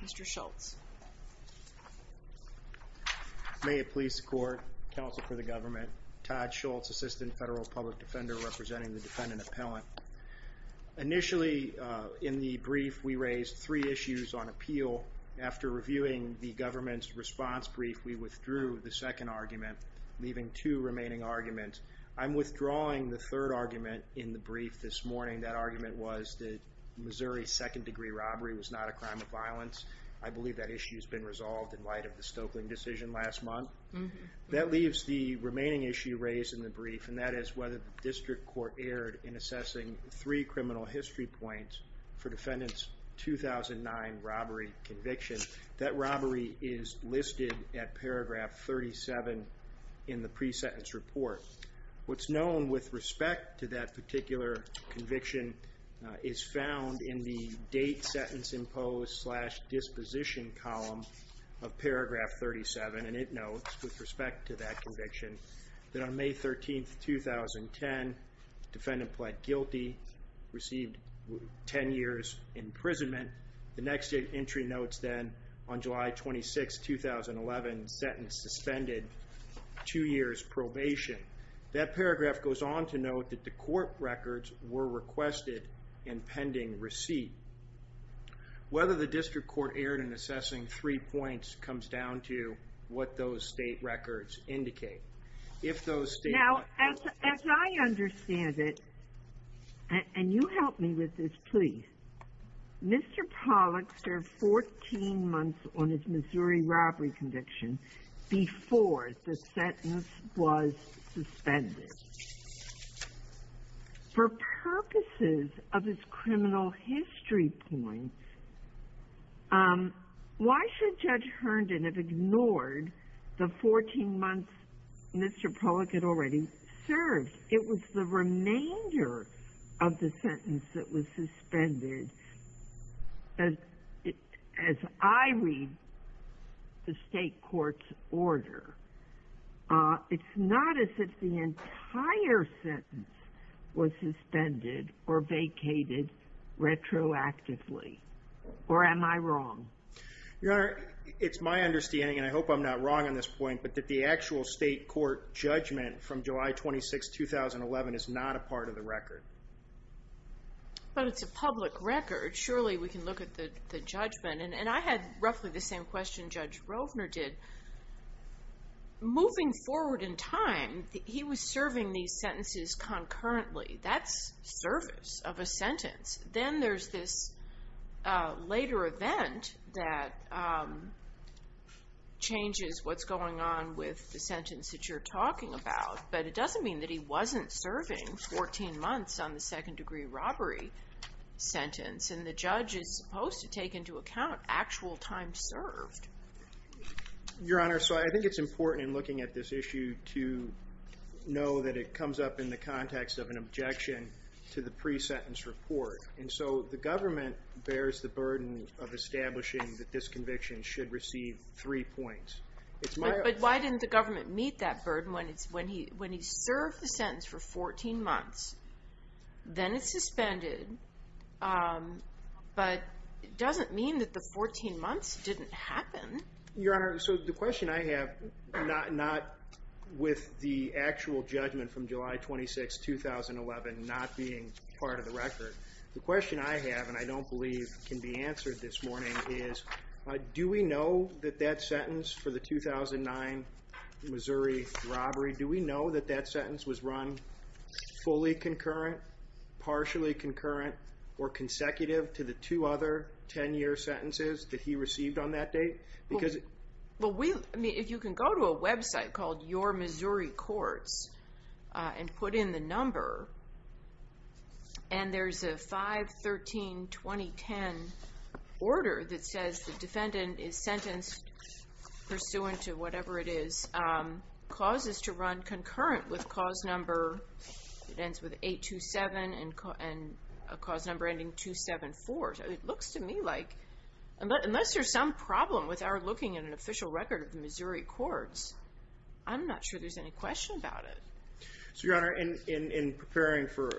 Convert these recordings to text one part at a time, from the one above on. Mr. Schultz. May it please the court, counsel for the government, Todd Schultz, assistant federal public defender representing the defendant appellant. Initially in the brief we raised three issues on appeal. After reviewing the government's response brief we withdrew the second argument leaving two remaining arguments. I'm withdrawing the third argument in the brief this morning. That second degree robbery was not a crime of violence. I believe that issue has been resolved in light of the Stokeling decision last month. That leaves the remaining issue raised in the brief and that is whether the district court erred in assessing three criminal history points for defendants 2009 robbery conviction. That robbery is listed at paragraph 37 in the pre-sentence report. What's known with respect to that particular conviction is found in the date sentence imposed slash disposition column of paragraph 37 and it notes with respect to that conviction that on May 13th 2010 defendant pled guilty, received 10 years imprisonment. The next entry notes then on July 26, 2011 sentence suspended two years probation. That paragraph goes on to note that the court records were requested in pending receipt. Whether the district court erred in assessing three points comes down to what those state records indicate. If those state records... Now as I understand it, and you help me with this please, Mr. Pollack served after 14 months on his Missouri robbery conviction before the sentence was suspended. For purposes of his criminal history points, why should Judge Herndon have ignored the 14 months Mr. Pollack had already served? It was the As I read the state court's order, it's not as if the entire sentence was suspended or vacated retroactively. Or am I wrong? Your Honor, it's my understanding, and I hope I'm not wrong on this point, but that the actual state court judgment from July 26, 2011 is not a part of the record. But it's a public record. Surely we can look at the judgment. And I had roughly the same question Judge Rovner did. Moving forward in time, he was serving these sentences concurrently. That's service of a sentence. Then there's this later event that changes what's going on with the sentence that you're talking about. But it doesn't mean that he wasn't serving 14 months on the second degree robbery sentence. And the judge is supposed to take into account actual time served. Your Honor, so I think it's important in looking at this issue to know that it comes up in the context of an objection to the pre-sentence report. And so the government bears the burden of establishing that this conviction should receive three points. But why didn't the government meet that burden when he served the sentence for 14 months? Then it's suspended. But it doesn't mean that the 14 months didn't happen. Your Honor, so the question I have, not with the actual judgment from July 26, 2011 not being part of the record. The question I have, and I don't believe can be answered this morning, is do we know that that sentence for the 2009 Missouri robbery, do we know that that sentence was run fully concurrent, partially concurrent, or consecutive to the two other 10-year sentences that he received on that date? Well, if you can go to a website called Your Missouri Courts and put in the number, and there's a 5-13-2010 order that says the defendant is sentenced pursuant to whatever it is, causes to run concurrent with cause number, it ends with 827 and a cause number ending 274. It looks to me like, unless there's some problem with our looking at an official record of the Missouri Courts, I'm not sure there's any question about it. So, Your Honor, in preparing for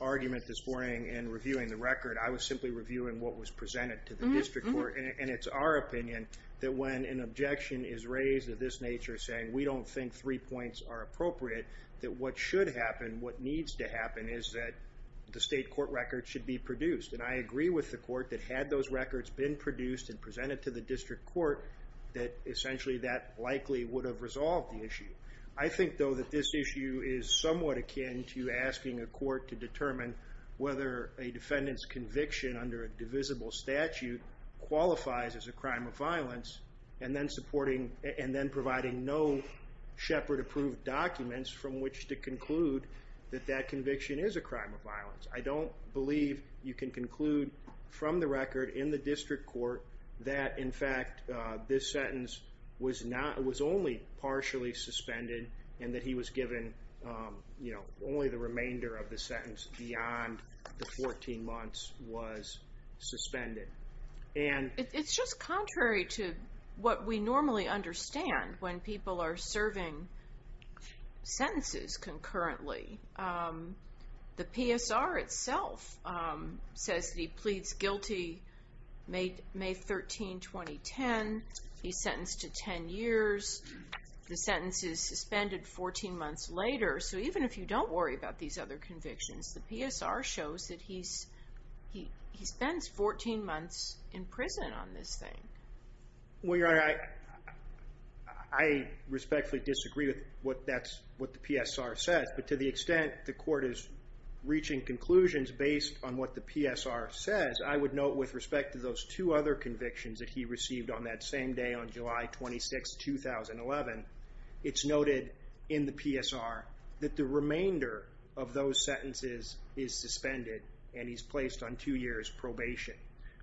argument this morning and reviewing the record, I was simply reviewing what was presented to the district court. And it's our opinion that when an objection is raised of this nature, saying we don't think three points are appropriate, that what should happen, what needs to happen, is that the state court record should be produced. And I agree with the court that had those records been produced and presented to the district court, that essentially that likely would have resolved the issue. I think, though, that this issue is somewhat akin to asking a court to determine whether a defendant's conviction under a divisible statute qualifies as a crime of violence, and then providing no Shepard-approved documents from which to conclude that that conviction is a crime of violence. I don't believe you can conclude from the record in the district court that, in fact, this sentence was only partially suspended, and that he was given only the remainder of the sentence beyond the 14 months was suspended. It's just contrary to what we normally understand when people are serving sentences concurrently. The PSR itself says that he pleads guilty May 13, 2010. He's sentenced to 10 years. The sentence is suspended 14 months later. So even if you don't worry about these other convictions, the PSR shows that he spends 14 months in prison on this thing. Well, Your Honor, I respectfully disagree with what the PSR says, but to the extent the court is reaching conclusions based on what the PSR says, I would note with respect to those two other convictions that he received on that same day on July 26, 2011, it's noted in the PSR that the remainder of those sentences is suspended, and he's placed on two years probation.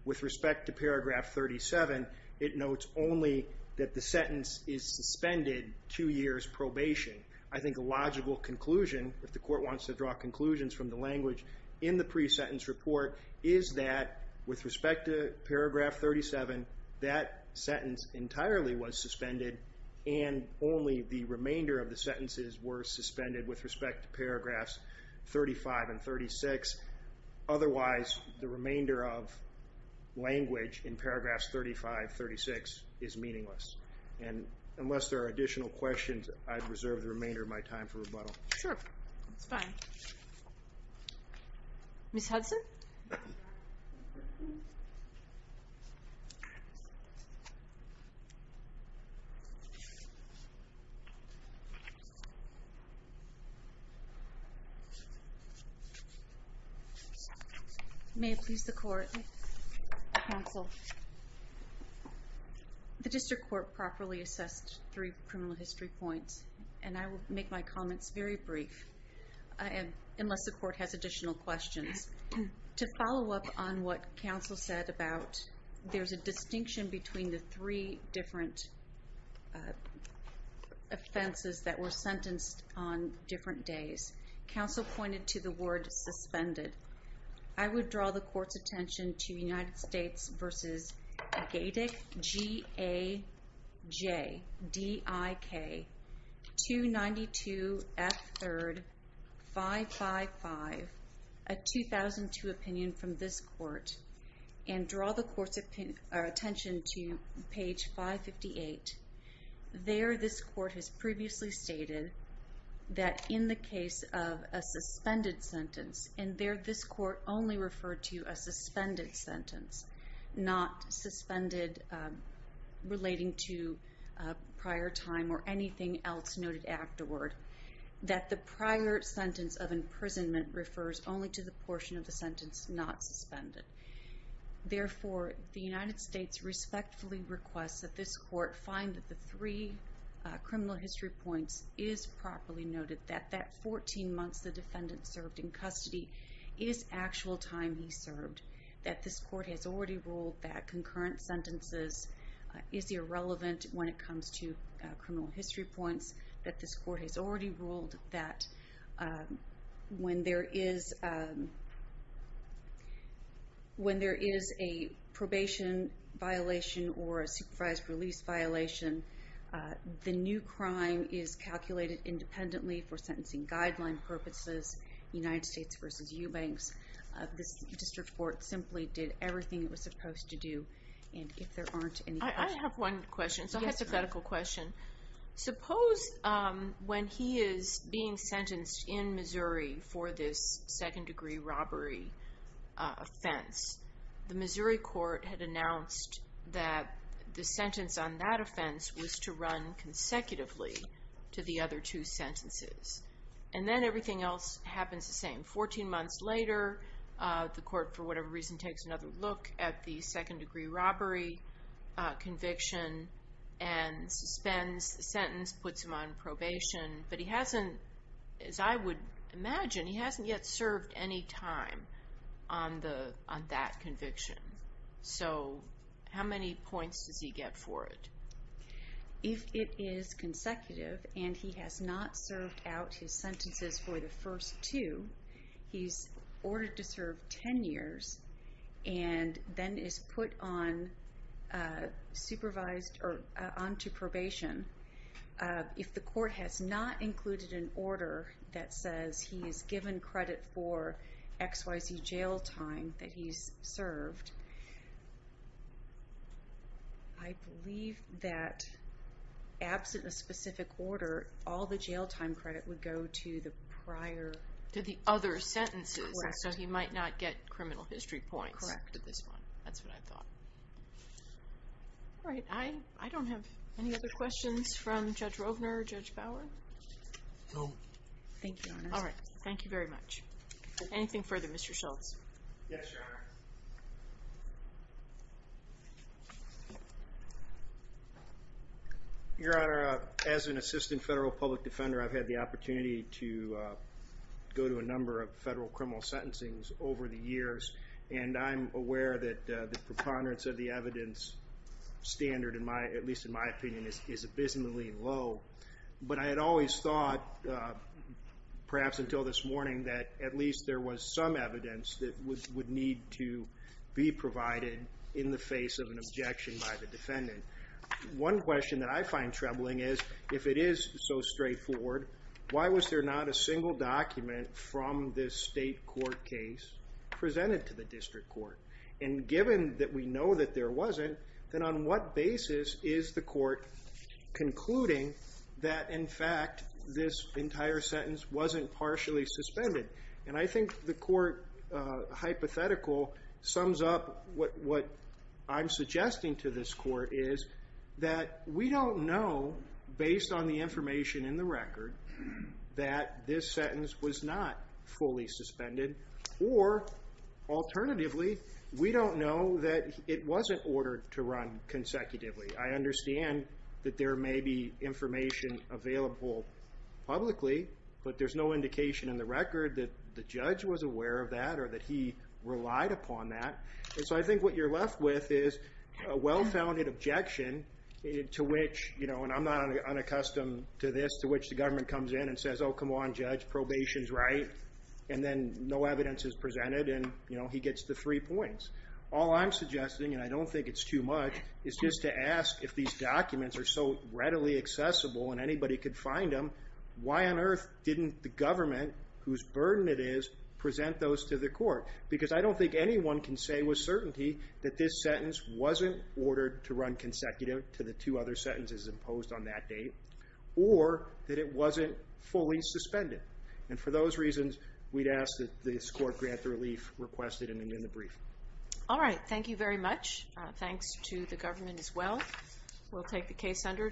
With respect to paragraph 37, it notes only that the sentence is suspended two years probation. I think a logical conclusion, if the court wants to draw conclusions from the language in the pre-sentence report, is that with respect to paragraph 37, that sentence entirely was suspended, and only the remainder of the sentences were suspended with respect to paragraphs 35 and 36. Otherwise, the remainder of language in paragraphs 35, 36 is meaningless. And unless there are additional questions, I'd reserve the remainder of my time for rebuttal. Sure, that's fine. Ms. Hudson? May it please the court, counsel. The district court properly assessed three criminal history points, and I will make my comments very brief, unless the court has additional questions. To follow up on what counsel said about there's a distinction between the three different offenses that were sentenced on different days, counsel pointed to the word suspended. I would draw the court's attention to United States v. Gajdik, 292 F. 3rd, 555, a 2002 opinion from this court, and draw the court's attention to page 558. There, this court has previously stated that in the case of a suspended sentence, and there this court only referred to a suspended sentence, not suspended relating to prior time or anything else noted afterward, that the prior sentence of imprisonment refers only to the portion of the sentence not suspended. Therefore, the United States respectfully requests that this court find that the three criminal history points is properly noted, that that 14 months the defendant served in custody is actual time he served, that this court has already ruled that concurrent sentences is irrelevant when it comes to criminal history points, that this court has already ruled that when there is a probation violation or a supervised release violation, the new crime is calculated independently for sentencing guideline purposes, United States v. Eubanks. This district court simply did everything it was supposed to do, and if there aren't any questions... And then everything else happens the same. 14 months later, the court, for whatever reason, takes another look at the second degree robbery conviction and suspends the sentence, puts him on probation, but he hasn't, as I would imagine, he hasn't yet served any time on that conviction. So how many points does he get for it? If it is consecutive and he has not served out his sentences for the first two, he's ordered to serve 10 years and then is put on supervised or on to probation. If the court has not included an order that says he is given credit for XYZ jail time that he's served, I believe that absent a specific order, all the jail time credit would go to the prior... To the other sentences, so he might not get criminal history points. Correct. That's what I thought. All right, I don't have any other questions from Judge Rovner or Judge Bauer. No. Thank you, Your Honor. All right. Thank you very much. Anything further, Mr. Schultz? Yes, Your Honor. Your Honor, as an assistant federal public defender, I've had the opportunity to go to a number of federal criminal sentencings over the years, and I'm aware that the preponderance of the evidence standard, at least in my opinion, is abysmally low. But I had always thought, perhaps until this morning, that at least there was some evidence that would need to be provided in the face of an objection by the defendant. One question that I find troubling is, if it is so straightforward, why was there not a single document from this state court case presented to the district court? And given that we know that there wasn't, then on what basis is the court concluding that, in fact, this entire sentence wasn't partially suspended? And I think the court hypothetical sums up what I'm suggesting to this court is that we don't know, based on the information in the record, that this sentence was not fully suspended. Or, alternatively, we don't know that it wasn't ordered to run consecutively. I understand that there may be information available publicly, but there's no indication in the record that the judge was aware of that or that he relied upon that. And so I think what you're left with is a well-founded objection to which, and I'm not unaccustomed to this, to which the government comes in and says, oh, come on, judge, probation's right, and then no evidence is presented, and he gets the three points. All I'm suggesting, and I don't think it's too much, is just to ask if these documents are so readily accessible and anybody could find them, why on earth didn't the government, whose burden it is, present those to the court? Because I don't think anyone can say with certainty that this sentence wasn't ordered to run consecutive to the two other sentences imposed on that date, or that it wasn't fully suspended. And for those reasons, we'd ask that this court grant the relief requested in the brief. All right. Thank you very much. Thanks to the government as well. We'll take the case under.